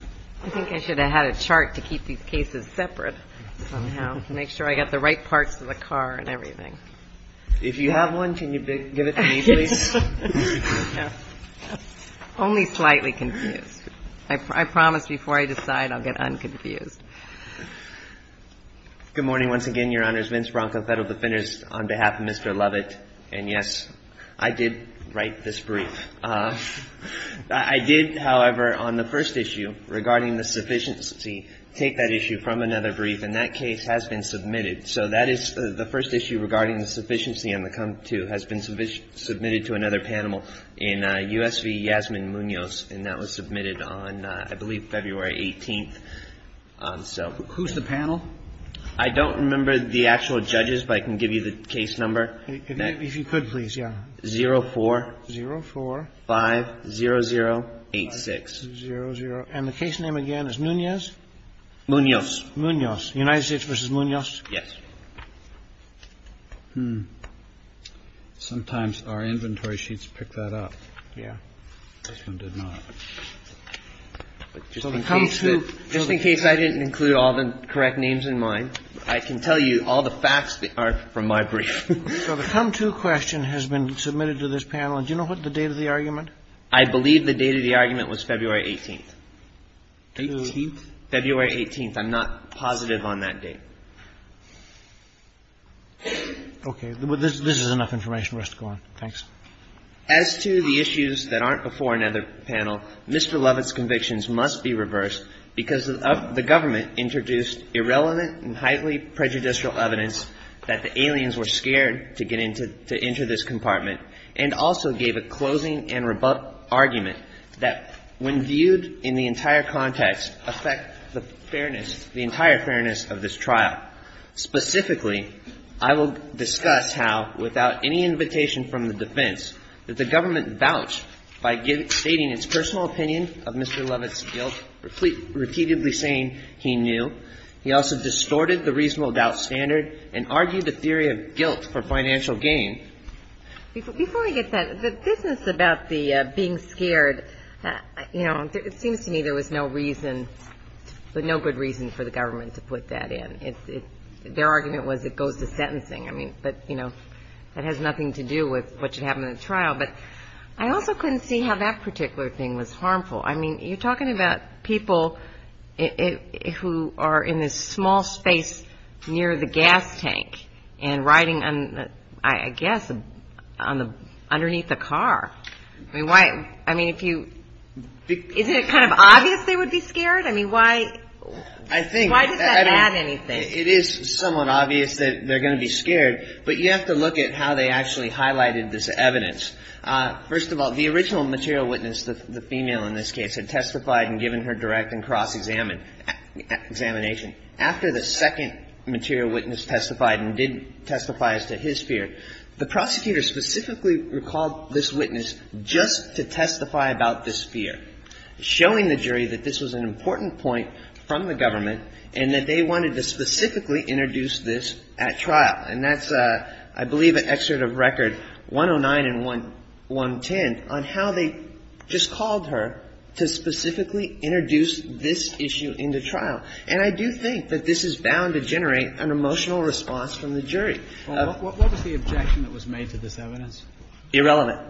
I think I should have had a chart to keep these cases separate somehow, to make sure I got the right parts of the car and everything. If you have one, can you give it to me, please? Yes. Only slightly confused. I promise before I decide, I'll get unconfused. Good morning once again, Your Honors. Vince Bronco, Federal Defenders, on behalf of Mr. Lovett, and yes, I did write this brief. I did, however, on the first issue regarding the sufficiency, take that issue from another brief, and that case has been submitted. So that is the first issue regarding the sufficiency and the come-to has been submitted to another panel in U.S. v. Yasmin Munoz, and that was submitted on, I believe, February 18th. So. Who's the panel? I don't remember the actual judges, but I can give you the case number. If you could, please, yeah. 0-4-5-0-0-8-6. And the case name again is Munoz? Munoz. Munoz. United States v. Munoz. Yes. Sometimes our inventory sheets pick that up. Yeah. This one did not. Just in case I didn't include all the correct names in mine, I can tell you all the facts are from my brief. So the come-to question has been submitted to this panel. Do you know what the date of the argument? I believe the date of the argument was February 18th. 18th? February 18th. I'm not positive on that date. Okay. This is enough information for us to go on. Thanks. As to the issues that aren't before another panel, Mr. Lovett's convictions must be reversed because the government introduced irrelevant and highly prejudicial evidence that the aliens were scared to enter this compartment, and also gave a closing and rebut argument that when viewed in the entire context affect the fairness, the entire fairness of this trial. Specifically, I will discuss how, without any invitation from the defense, that the government vouched by stating its personal opinion of Mr. Lovett distorted the reasonable doubt standard and argued the theory of guilt for financial gain. Before I get that, the business about the being scared, you know, it seems to me there was no reason, but no good reason for the government to put that in. Their argument was it goes to sentencing. I mean, but, you know, that has nothing to do with what should happen in the trial. But I also couldn't see how that particular thing was harmful. I mean, you're talking about people who are in this small space near the gas tank and riding, I guess, underneath a car. I mean, if you isn't it kind of obvious they would be scared? I mean, why does that add anything? It is somewhat obvious that they're going to be scared, but you have to look at how they actually highlighted this evidence. First of all, the original material witness, the female in this case, had testified and given her direct and cross-examination. After the second material witness testified and did testify as to his fear, the prosecutor specifically recalled this witness just to testify about this fear, showing the jury that this was an important point from the government and that they wanted to specifically introduce this at trial. And that's, I believe, an excerpt of record 109 and 110 on how they just called her to specifically introduce this issue into trial. And I do think that this is bound to generate an emotional response from the jury. What was the objection that was made to this evidence? Irrelevant.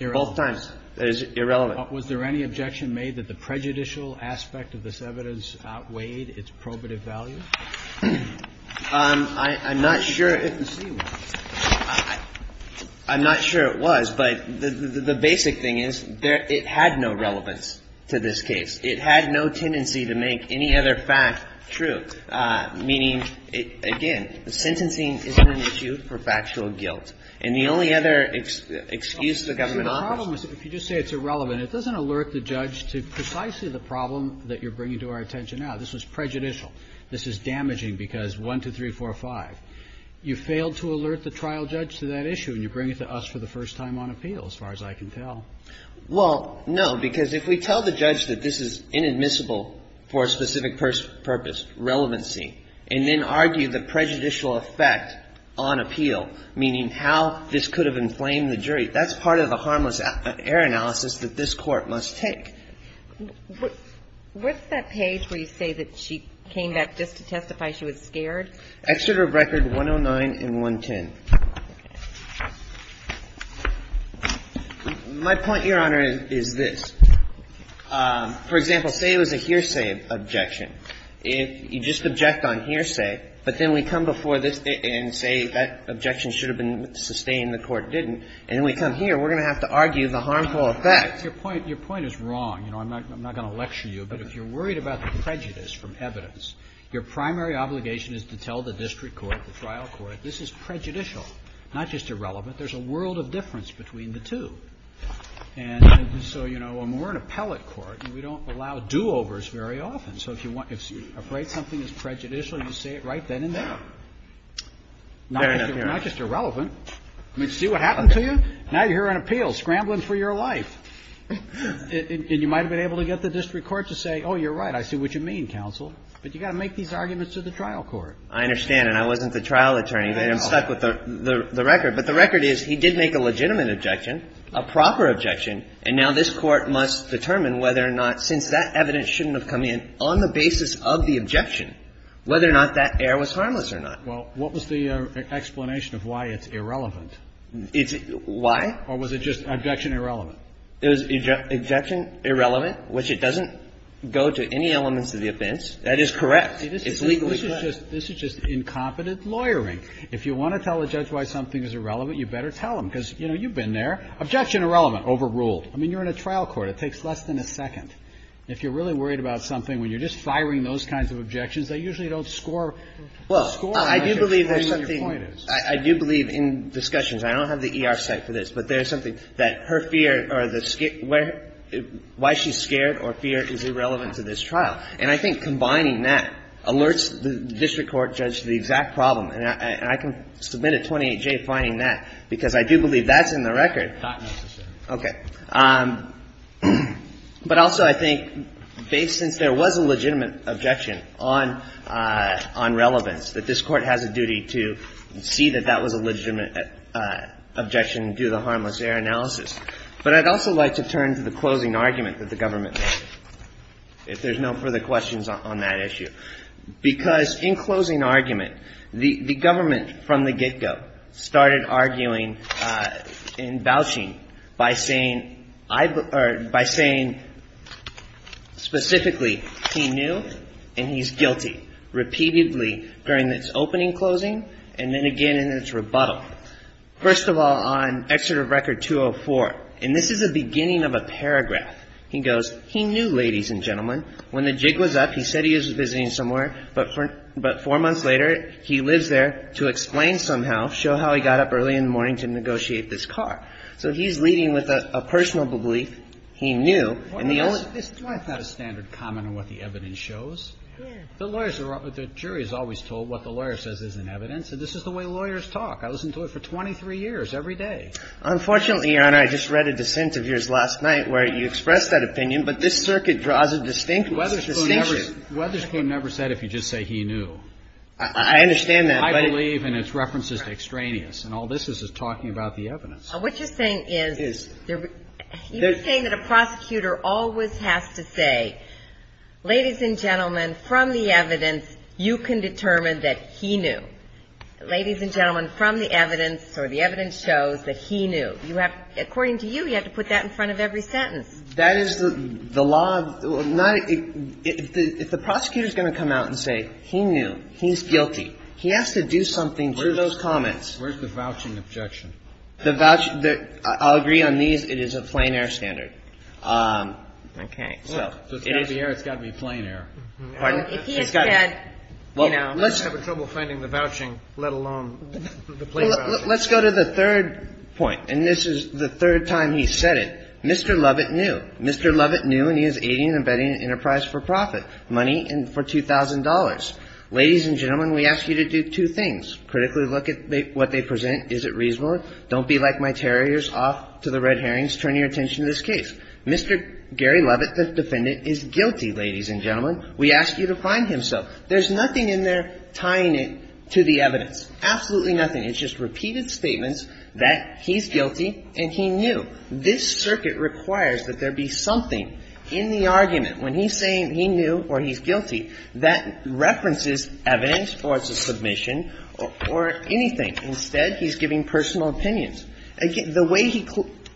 Irrelevant. Both times. It is irrelevant. Was there any objection made that the prejudicial aspect of this evidence outweighed its probative value? I'm not sure if the C was. I'm not sure it was. But the basic thing is it had no relevance to this case. It had no tendency to make any other fact true, meaning, again, sentencing isn't an issue for factual guilt. And the only other excuse the government offers is that if you just say it's irrelevant, it doesn't alert the judge to precisely the problem that you're bringing to our attention now. This was prejudicial. This is damaging because 1, 2, 3, 4, 5. You failed to alert the trial judge to that issue, and you bring it to us for the first time on appeal, as far as I can tell. Well, no, because if we tell the judge that this is inadmissible for a specific purpose, relevancy, and then argue the prejudicial effect on appeal, meaning how this could have inflamed the jury, that's part of the harmless error analysis that this Court must take. What's that page where you say that she came back just to testify she was scared? Exeter Record 109 and 110. My point, Your Honor, is this. For example, say it was a hearsay objection. If you just object on hearsay, but then we come before this and say that objection should have been sustained and the Court didn't, and then we come here, we're going to have to argue the harmful effect. Your point is wrong. I'm not going to lecture you, but if you're worried about the prejudice from evidence, your primary obligation is to tell the district court, the trial court, this is prejudicial, not just irrelevant. There's a world of difference between the two. And so, you know, when we're an appellate court, we don't allow do-overs very often. So if you're afraid something is prejudicial, you say it right then and there. Fair enough, Your Honor. Not just irrelevant. I mean, see what happened to you? Now you're here on appeal scrambling for your life. And you might have been able to get the district court to say, oh, you're right, I see what you mean, counsel. But you've got to make these arguments to the trial court. I understand, and I wasn't the trial attorney. I'm stuck with the record. But the record is he did make a legitimate objection, a proper objection, and now this Court must determine whether or not, since that evidence shouldn't have come in on the basis of the objection, whether or not that error was harmless or not. Well, what was the explanation of why it's irrelevant? It's why? Or was it just objection irrelevant? It was objection irrelevant, which it doesn't go to any elements of the offense. That is correct. It's legally correct. This is just incompetent lawyering. If you want to tell a judge why something is irrelevant, you better tell him. Because, you know, you've been there. Objection irrelevant, overruled. I mean, you're in a trial court. It takes less than a second. If you're really worried about something, when you're just firing those kinds of objections, they usually don't score. Well, I do believe there's something – I do believe in discussions. I don't have the ER site for this, but there's something that her fear or the – why she's scared or fear is irrelevant to this trial. And I think combining that alerts the district court judge to the exact problem. And I can submit a 28-J finding that, because I do believe that's in the record. Not necessarily. Okay. But also, I think, based – since there was a legitimate objection on relevance, that this court has a duty to see that that was a legitimate objection and do the harmless error analysis. But I'd also like to turn to the closing argument that the government made, if there's no further questions on that issue. Because in closing argument, the government from the get-go started arguing and vouching by saying – or by saying specifically, he knew and he's guilty, repeatedly, during its opening closing and then again in its rebuttal. First of all, on Exeter Record 204 – and this is the beginning of a paragraph – he goes, he knew, ladies and gentlemen. When the jig was up, he said he was visiting somewhere, but four months later, he lives there to explain somehow, show how he got up early in the morning to negotiate this car. So he's leading with a personal belief, he knew, and the only – Why is that a standard comment on what the evidence shows? The lawyers are – the jury is always told what the lawyer says isn't evidence. And this is the way lawyers talk. I listen to it for 23 years, every day. Unfortunately, Your Honor, I just read a dissent of yours last night where you expressed that opinion, but this circuit draws a distinction. Wetherspoon never – Wetherspoon never said if you just say he knew. I understand that, but – I believe in its references to extraneous, and all this is is talking about the evidence. And what you're saying is – Is. You're saying that a prosecutor always has to say, ladies and gentlemen, from the evidence, you can determine that he knew. Ladies and gentlemen, from the evidence, or the evidence shows that he knew. You have – according to you, you have to put that in front of every sentence. That is the law of – not – if the prosecutor is going to come out and say he knew, he's guilty, he has to do something to those comments. Where's the vouching objection? The vouch – I'll agree on these. It is a plain air standard. Okay, so – It is the air. It's got to be plain air. Pardon? If he had said – Well, let's – I'd have trouble finding the vouching, let alone the plain vouching. Let's go to the third point, and this is the third time he's said it. Mr. Lovett knew. Mr. Lovett knew, and he is aiding and abetting an enterprise for profit, money for $2,000. Ladies and gentlemen, we ask you to do two things. Critically look at what they present. Is it reasonable? Don't be like my terriers off to the Red Herrings, turning your attention to this case. Mr. Gary Lovett, the defendant, is guilty, ladies and gentlemen. We ask you to find himself. There's nothing in there tying it to the evidence. Absolutely nothing. It's just repeated statements that he's guilty and he knew. This circuit requires that there be something in the argument when he's saying he knew or he's guilty that references evidence or it's a submission or anything. Instead, he's giving personal opinions. The way he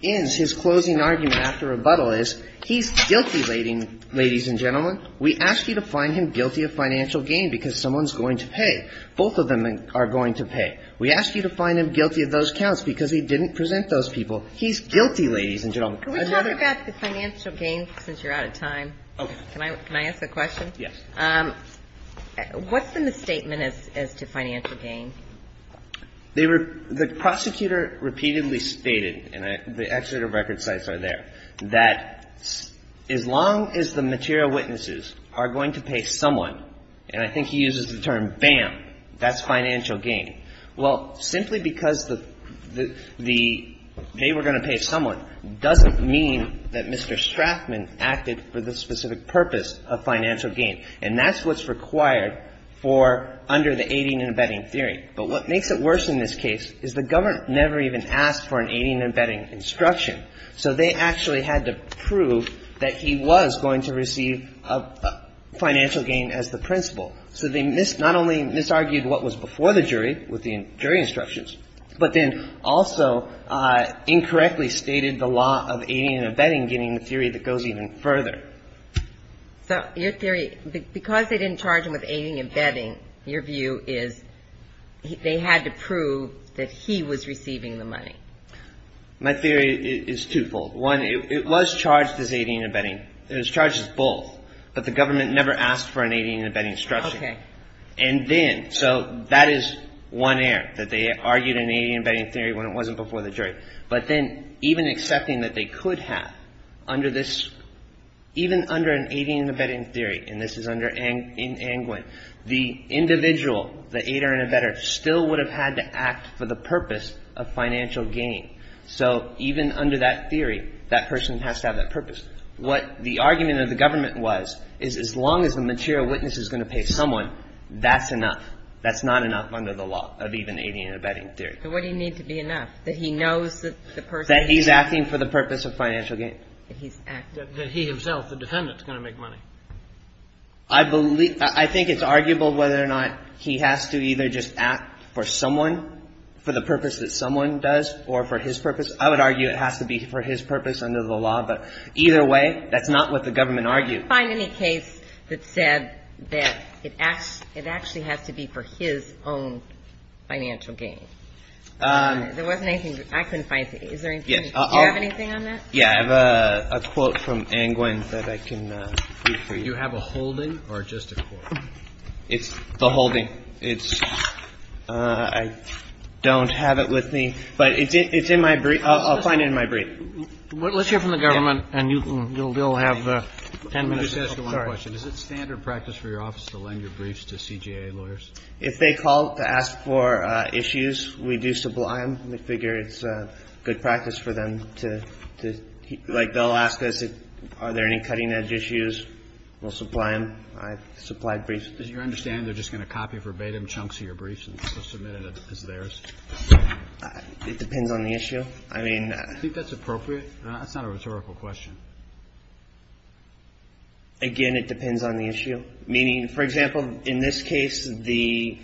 ends his closing argument after rebuttal is he's guilty, ladies and gentlemen. We ask you to find him guilty of financial gain because someone's going to pay. Both of them are going to pay. We ask you to find him guilty of those counts because he didn't present those people. He's guilty, ladies and gentlemen. Another question. Can we talk about the financial gain since you're out of time? Okay. Can I ask a question? Yes. What's in the statement as to financial gain? The prosecutor repeatedly stated, and the exeter of record sites are there, that as long as the material witnesses are going to pay someone, and I think he uses the term bam, that's financial gain. Well, simply because they were going to pay someone doesn't mean that Mr. Strathman acted for the specific purpose of financial gain. And that's what's required for under the aiding and abetting theory. But what makes it worse in this case is the government never even asked for an aiding and abetting instruction. So they actually had to prove that he was going to receive financial gain as the principal. So they not only misargued what was before the jury with the jury instructions, but then also incorrectly stated the law of aiding and abetting, giving the theory that goes even further. So your theory, because they didn't charge him with aiding and abetting, your view is they had to prove that he was receiving the money. My theory is twofold. One, it was charged as aiding and abetting. It was charged as both. But the government never asked for an aiding and abetting instruction. Okay. And then, so that is one error, that they argued an aiding and abetting theory when it wasn't before the jury. But then even accepting that they could have under this, even under an aiding and abetting theory, and this is under Angwin, the individual, the aider and abetter, still would have had to act for the purpose of financial gain. So even under that theory, that person has to have that purpose. What the argument of the government was is as long as the material witness is going to pay someone, that's enough. That's not enough under the law of even aiding and abetting theory. So what do you need to be enough? That he knows that the person is going to pay. That he's acting for the purpose of financial gain. That he's acting. That he himself, the defendant, is going to make money. I believe — I think it's arguable whether or not he has to either just act for someone, for the purpose that someone does, or for his purpose. I would argue it has to be for his purpose under the law. But either way, that's not what the government argued. I couldn't find any case that said that it actually has to be for his own financial gain. There wasn't anything. I couldn't find it. Is there anything? Do you have anything on that? Yeah. I have a quote from Angwin that I can read for you. Do you have a holding or just a quote? It's the holding. It's — I don't have it with me. But it's in my brief. I'll find it in my brief. All right. Let's hear from the government, and you'll have 10 minutes. Let me just ask you one question. Is it standard practice for your office to lend your briefs to CJA lawyers? If they call to ask for issues, we do supply them. We figure it's good practice for them to — like, they'll ask us, are there any cutting-edge issues? We'll supply them. I've supplied briefs. Do you understand they're just going to copy verbatim chunks of your briefs and submit it as theirs? It depends on the issue. I mean — Do you think that's appropriate? That's not a rhetorical question. Again, it depends on the issue. Meaning, for example, in this case, the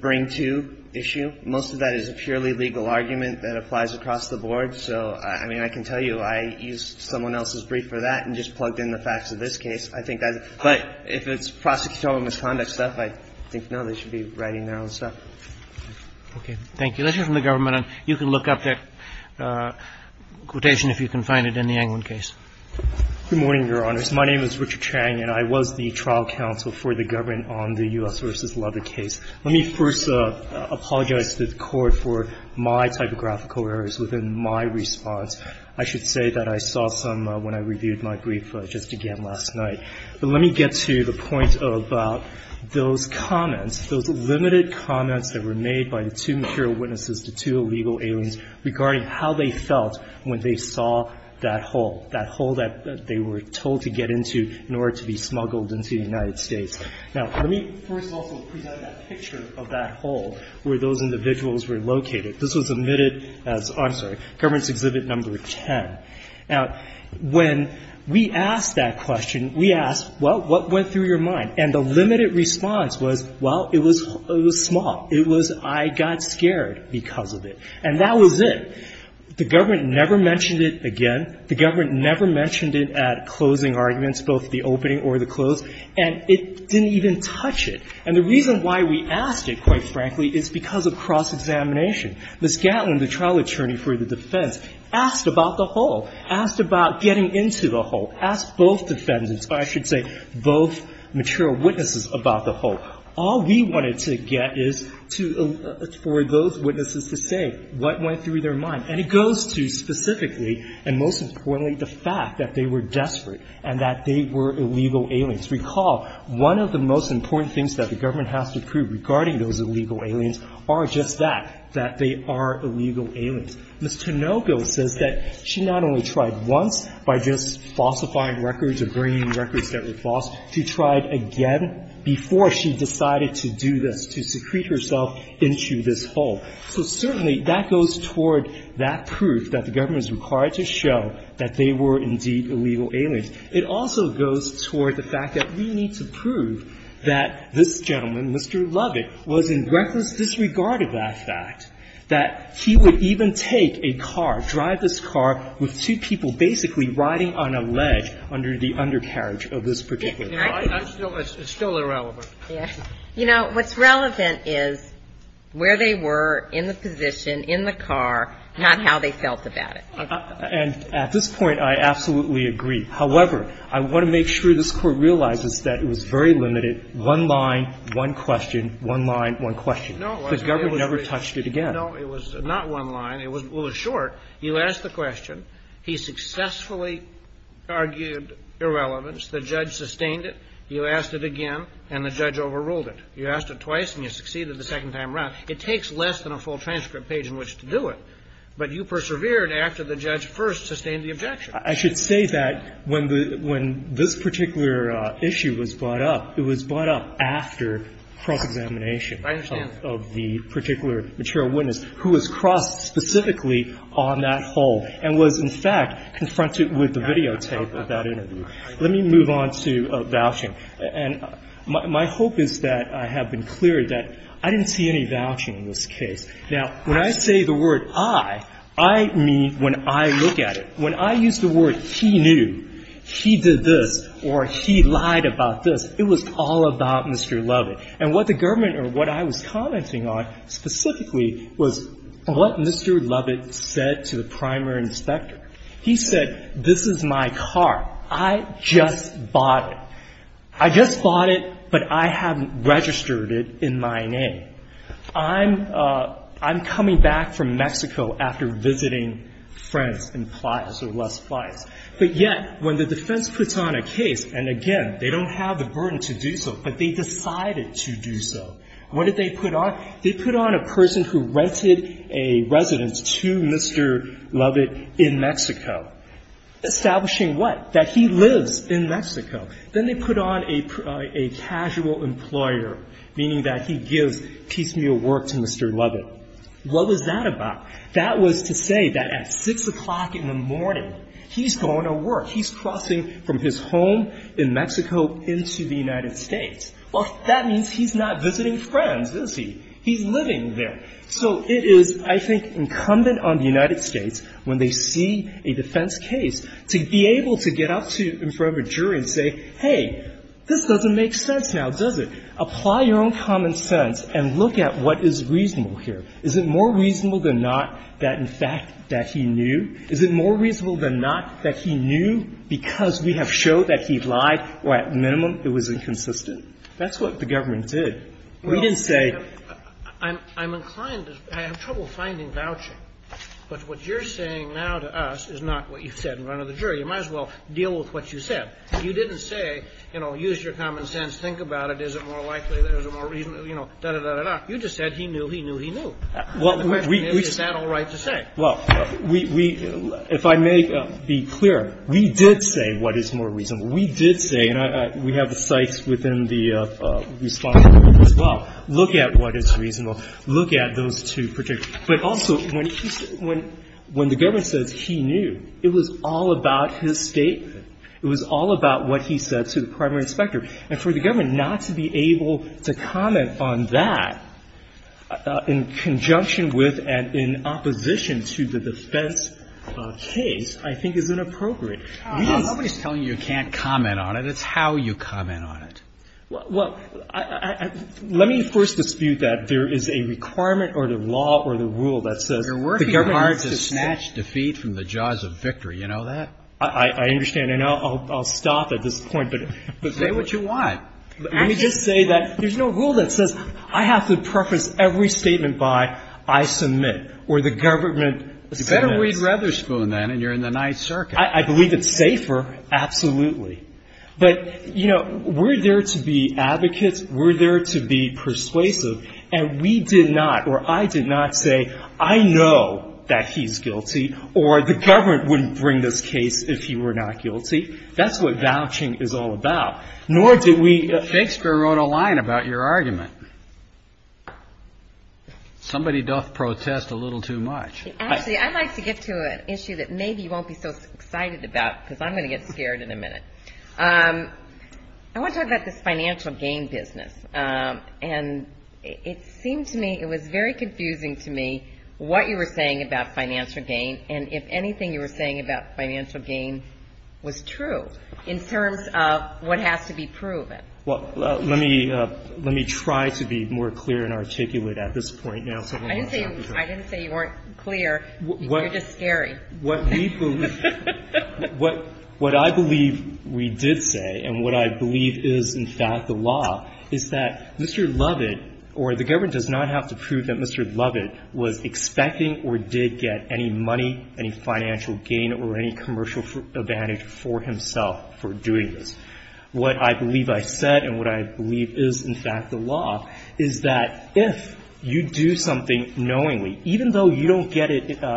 bring-to issue, most of that is a purely legal argument that applies across the board. So, I mean, I can tell you I used someone else's brief for that and just plugged in the facts of this case. I think that — but if it's prosecutorial misconduct stuff, I think, no, they should be writing their own stuff. Okay. Thank you. Let's hear from the government. You can look up that quotation, if you can find it, in the Englund case. Good morning, Your Honors. My name is Richard Chang, and I was the trial counsel for the government on the U.S. v. Leather case. Let me first apologize to the Court for my typographical errors within my response. I should say that I saw some when I reviewed my brief just again last night. But let me get to the point about those comments, those limited comments that were regarding how they felt when they saw that hole, that hole that they were told to get into in order to be smuggled into the United States. Now, let me first also present that picture of that hole where those individuals were located. This was omitted as — I'm sorry, Government's Exhibit No. 10. Now, when we asked that question, we asked, well, what went through your mind? And the limited response was, well, it was small. It was, I got scared because of it. And that was it. The government never mentioned it again. The government never mentioned it at closing arguments, both the opening or the close. And it didn't even touch it. And the reason why we asked it, quite frankly, is because of cross-examination. Ms. Gatlin, the trial attorney for the defense, asked about the hole, asked about getting into the hole, all we wanted to get is to — for those witnesses to say what went through their mind. And it goes to specifically, and most importantly, the fact that they were desperate and that they were illegal aliens. Recall, one of the most important things that the government has to prove regarding those illegal aliens are just that, that they are illegal aliens. Ms. Tinoco says that she not only tried once by just falsifying records or bringing records that were false, she tried again before she decided to do this, to secrete herself into this hole. So certainly, that goes toward that proof that the government is required to show that they were indeed illegal aliens. It also goes toward the fact that we need to prove that this gentleman, Mr. Lovett, was in reckless disregard of that fact, that he would even take a car, drive this car with two people basically riding on a ledge under the undercarriage of this particular car. It's still irrelevant. You know, what's relevant is where they were in the position, in the car, not how they felt about it. And at this point, I absolutely agree. However, I want to make sure this Court realizes that it was very limited, one line, one question, one line, one question. The government never touched it again. No, it was not one line. It was short. You asked the question. He successfully argued irrelevance. The judge sustained it. You asked it again, and the judge overruled it. You asked it twice, and you succeeded the second time around. It takes less than a full transcript page in which to do it. But you persevered after the judge first sustained the objection. I should say that when the – when this particular issue was brought up, it was brought up after cross-examination. I understand that. And I know that there was a part of the particular material witness who was crossed specifically on that whole and was in fact confronted with the videotape of that interview. Let me move on to vouching. And my hope is that I have been clear that I didn't see any vouching in this case. Now, when I say the word I, I mean when I look at it. When I use the word he knew, he did this, or he lied about this, it was all about Mr. Lovett. And what the government or what I was commenting on specifically was what Mr. Lovett said to the primary inspector. He said, this is my car. I just bought it. I just bought it, but I haven't registered it in my name. I'm – I'm coming back from Mexico after visiting friends in Playa or Las Playas. But yet, when the defense puts on a case, and again, they don't have the burden to do so, but they decided to do so, what did they put on? They put on a person who rented a residence to Mr. Lovett in Mexico. Establishing what? That he lives in Mexico. Then they put on a casual employer, meaning that he gives piecemeal work to Mr. Lovett. What was that about? That was to say that at 6 o'clock in the morning, he's going to work. He's crossing from his home in Mexico into the United States. Well, that means he's not visiting friends, is he? He's living there. So it is, I think, incumbent on the United States, when they see a defense case, to be able to get up in front of a jury and say, hey, this doesn't make sense now, does it? Apply your own common sense and look at what is reasonable here. Is it more reasonable than not that, in fact, that he knew? Is it more reasonable than not that he knew because we have showed that he lied or, at minimum, it was inconsistent? That's what the government did. We didn't say – But what you're saying now to us is not what you've said in front of the jury. You might as well deal with what you said. You didn't say, you know, use your common sense, think about it, is it more likely there's a more reasonable – you know, da-da-da-da-da. You just said he knew, he knew, he knew. The question is, is that all right to say? Well, we – if I may be clear, we did say what is more reasonable. We did say – and we have the cites within the response as well. Look at what is reasonable. Look at those two particular – But also, when he – when the government says he knew, it was all about his statement. It was all about what he said to the primary inspector. And for the government not to be able to comment on that in conjunction with and in opposition to the defense case, I think, is inappropriate. We just – Nobody's telling you you can't comment on it. It's how you comment on it. Well, let me first dispute that there is a requirement or the law or the rule that says the government has to – You're working hard to snatch defeat from the jaws of victory. You know that? I understand. And I'll stop at this point, but – Say what you want. Let me just say that there's no rule that says I have to preface every statement by I submit or the government submits. You better read Rutherspoon, then, and you're in the Ninth Circuit. I believe it's safer, absolutely. But, you know, we're there to be advocates, we're there to be persuasive, and we did not or I did not say I know that he's guilty or the government wouldn't bring this case if he were not guilty. That's what vouching is all about. Nor did we – Shakespeare wrote a line about your argument. Somebody doth protest a little too much. Actually, I'd like to get to an issue that maybe you won't be so excited about because I'm going to get scared in a minute. I want to talk about this financial gain business. And it seemed to me, it was very confusing to me what you were saying about financial gain and if anything you were saying about financial gain was true in terms of what has to be proven. Well, let me try to be more clear and articulate at this point now. I didn't say you weren't clear. You're just scary. What we believe – what I believe we did say and what I believe is in fact the law is that Mr. Lovett or the government does not have to prove that Mr. Lovett was expecting or did get any money, any financial gain or any commercial advantage for himself for doing this. What I believe I said and what I believe is in fact the law is that if you do something knowingly, even though you don't get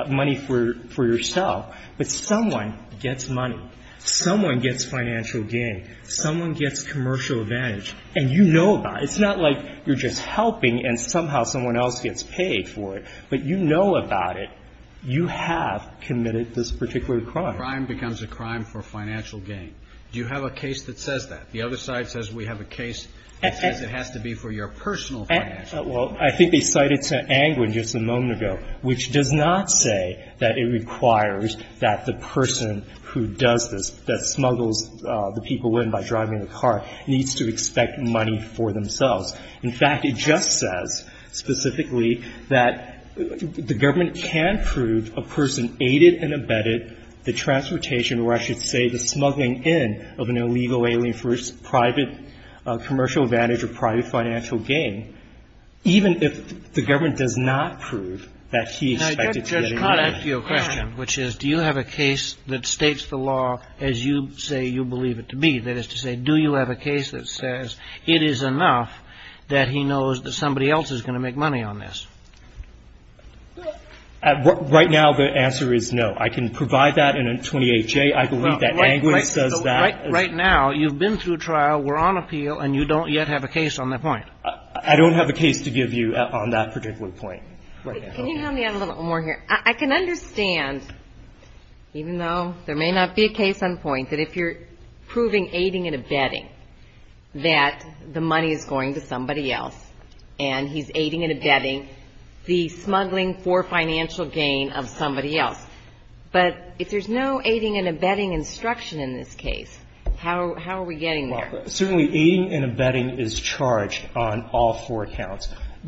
money for yourself, but someone gets money. Someone gets financial gain. Someone gets commercial advantage. And you know about it. It's not like you're just helping and somehow someone else gets paid for it. But you know about it. You have committed this particular crime. Crime becomes a crime for financial gain. Do you have a case that says that? Well, I think they cited St. Angwin just a moment ago, which does not say that it requires that the person who does this, that smuggles the people in by driving the car, needs to expect money for themselves. In fact, it just says specifically that the government can prove a person aided and abetted the transportation or I should say the smuggling in of an illegal alien for his private commercial advantage or private financial gain, even if the government does not prove that he expected to get any money. Now, Judge, can I ask you a question, which is, do you have a case that states the law as you say you believe it to be? That is to say, do you have a case that says it is enough that he knows that somebody else is going to make money on this? Right now, the answer is no. I can provide that in a 28-J. I believe that Angwin says that. Right now, you've been through trial, we're on appeal, and you don't yet have a case on that point. I don't have a case to give you on that particular point. Can you help me out a little more here? I can understand, even though there may not be a case on point, that if you're proving aiding and abetting that the money is going to somebody else and he's aiding and abetting the smuggling for financial gain of somebody else. But if there's no aiding and abetting instruction in this case, how are we getting there? Certainly, aiding and abetting is charged on all four counts.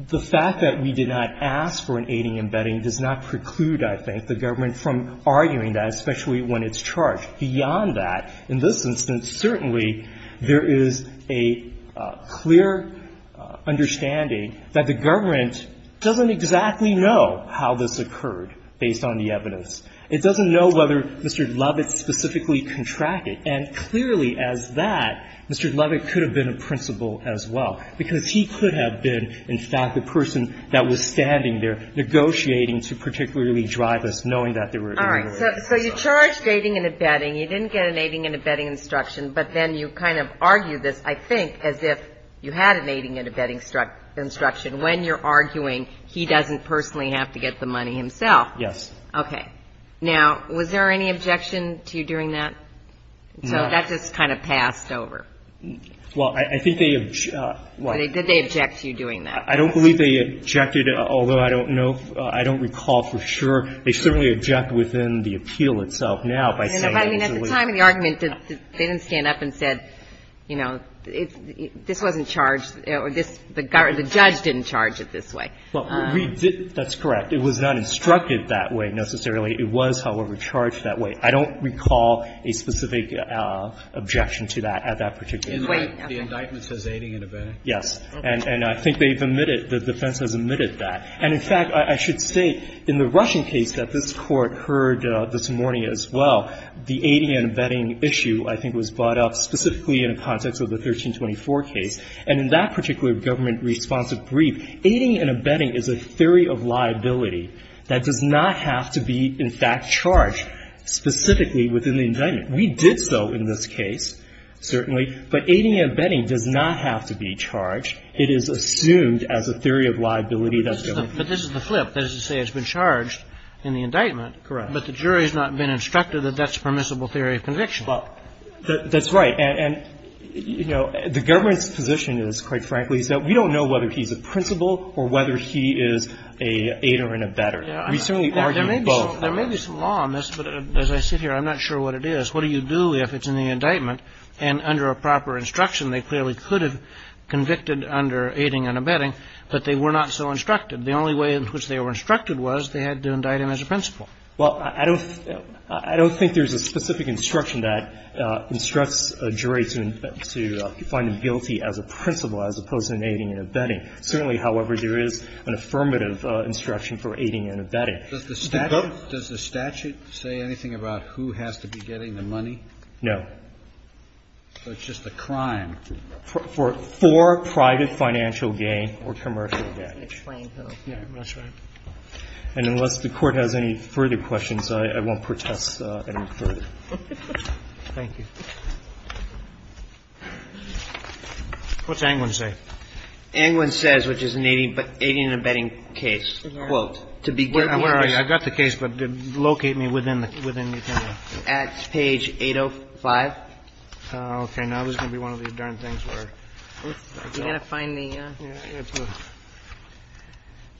The fact that we did not ask for an aiding and abetting does not preclude, I think, the government from arguing that, especially when it's charged. Beyond that, in this instance, certainly there is a clear understanding that the government doesn't exactly know how this occurred based on the evidence. It doesn't know whether Mr. Lovett specifically contracted. And clearly as that, Mr. Lovett could have been a principal as well, because he could have been, in fact, the person that was standing there negotiating to particularly drive us, knowing that there were irregularities. So you charged aiding and abetting. You didn't get an aiding and abetting instruction. But then you kind of argued this, I think, as if you had an aiding and abetting instruction. When you're arguing, he doesn't personally have to get the money himself. Yes. Okay. Now, was there any objection to you doing that? No. So that just kind of passed over. Well, I think they objected. Did they object to you doing that? I don't believe they objected, although I don't know. I don't recall for sure. They certainly object within the appeal itself now by saying it was illegal. Well, I mean, at the time of the argument, they didn't stand up and said, you know, this wasn't charged, or this, the judge didn't charge it this way. Well, we did. That's correct. It was not instructed that way, necessarily. It was, however, charged that way. I don't recall a specific objection to that at that particular point. The indictment says aiding and abetting. And I think they've omitted, the defense has omitted that. And, in fact, I should state in the Russian case that this Court heard this morning as well, the aiding and abetting issue I think was brought up specifically in the context of the 1324 case. And in that particular government-responsive brief, aiding and abetting is a theory of liability that does not have to be, in fact, charged specifically within the indictment. We did so in this case, certainly. But this is the flip. That is to say, it's been charged in the indictment. Correct. But the jury has not been instructed that that's permissible theory of conviction. Well, that's right. And, you know, the government's position is, quite frankly, is that we don't know whether he's a principal or whether he is a aider and abetter. We certainly argue both. There may be some law on this, but as I sit here, I'm not sure what it is. What do you do if it's in the indictment, and under a proper instruction, they clearly could have convicted under aiding and abetting, but they were not so instructed? The only way in which they were instructed was they had to indict him as a principal. Well, I don't think there's a specific instruction that instructs a jury to find him guilty as a principal as opposed to an aiding and abetting. Certainly, however, there is an affirmative instruction for aiding and abetting. Does the statute say anything about who has to be getting the money? No. So it's just a crime. For private financial gain or commercial gain. That's right. And unless the Court has any further questions, I won't protest any further. Thank you. What's Angwin say? Angwin says, which is an aiding and abetting case, quote, to be given. Where are you? I've got the case, but locate me within the time limit. That's page 805. Okay. Now this is going to be one of these darn things where I've got to find the.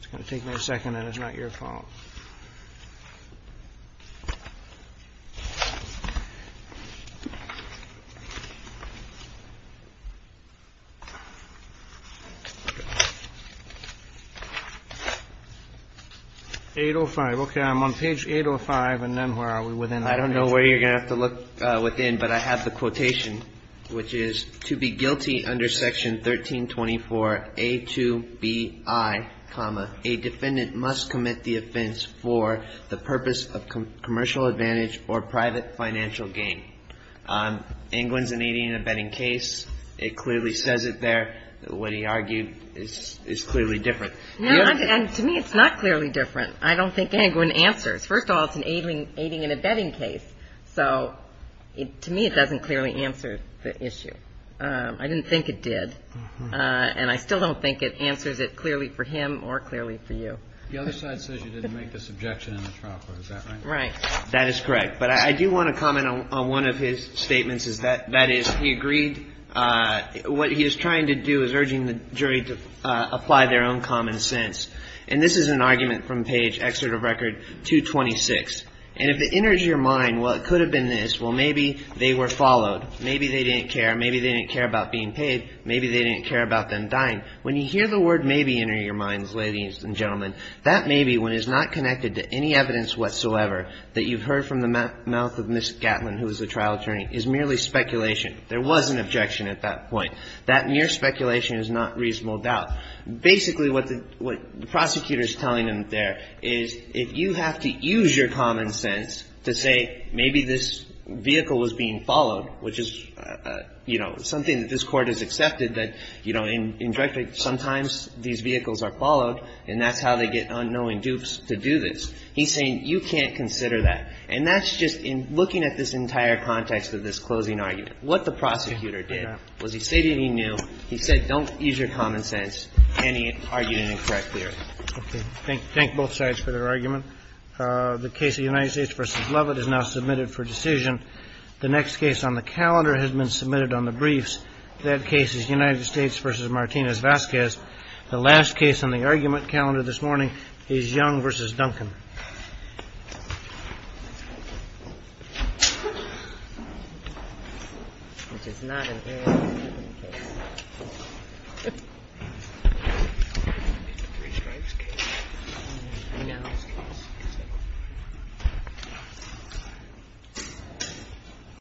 It's going to take me a second, and it's not your fault. 805. Okay. I'm on page 805. And then where are we? I don't know where you're going to have to look within, but I have the quotation, which is to be guilty under section 1324A2BI, a defendant must commit the offense for the purpose of commercial advantage or private financial gain. Angwin's an aiding and abetting case. It clearly says it there. What he argued is clearly different. To me, it's not clearly different. I don't think Angwin answers. First of all, it's an aiding and abetting case. So to me, it doesn't clearly answer the issue. I didn't think it did. And I still don't think it answers it clearly for him or clearly for you. The other side says you didn't make this objection in the trial court. Is that right? Right. That is correct. But I do want to comment on one of his statements. That is, he agreed. What he is trying to do is urging the jury to apply their own common sense. And this is an argument from page excerpt of record 226. And if it enters your mind, well, it could have been this. Well, maybe they were followed. Maybe they didn't care. Maybe they didn't care about being paid. Maybe they didn't care about them dying. When you hear the word maybe enter your minds, ladies and gentlemen, that maybe, when it's not connected to any evidence whatsoever that you've heard from the mouth of Ms. Gatlin, who is the trial attorney, is merely speculation. There was an objection at that point. That mere speculation is not reasonable doubt. Basically what the prosecutor is telling him there is if you have to use your common sense to say maybe this vehicle was being followed, which is, you know, something that this Court has accepted, that, you know, sometimes these vehicles are followed and that's how they get unknowing dupes to do this. He's saying you can't consider that. And that's just in looking at this entire context of this closing argument. What the prosecutor did was he stated he knew. He knew that this vehicle was being followed. And he was not going to use any evidence to convince any argument in correct theory. OK, thank thank both sides for their argument. The case of United States versus Levitt is now submitted for decision. The next case on the calendar has been submitted on the briefs. That case is United States versus Martinez Vasquez. The last case on the argument calendar this morning is Young versus Duncan. Three strikes.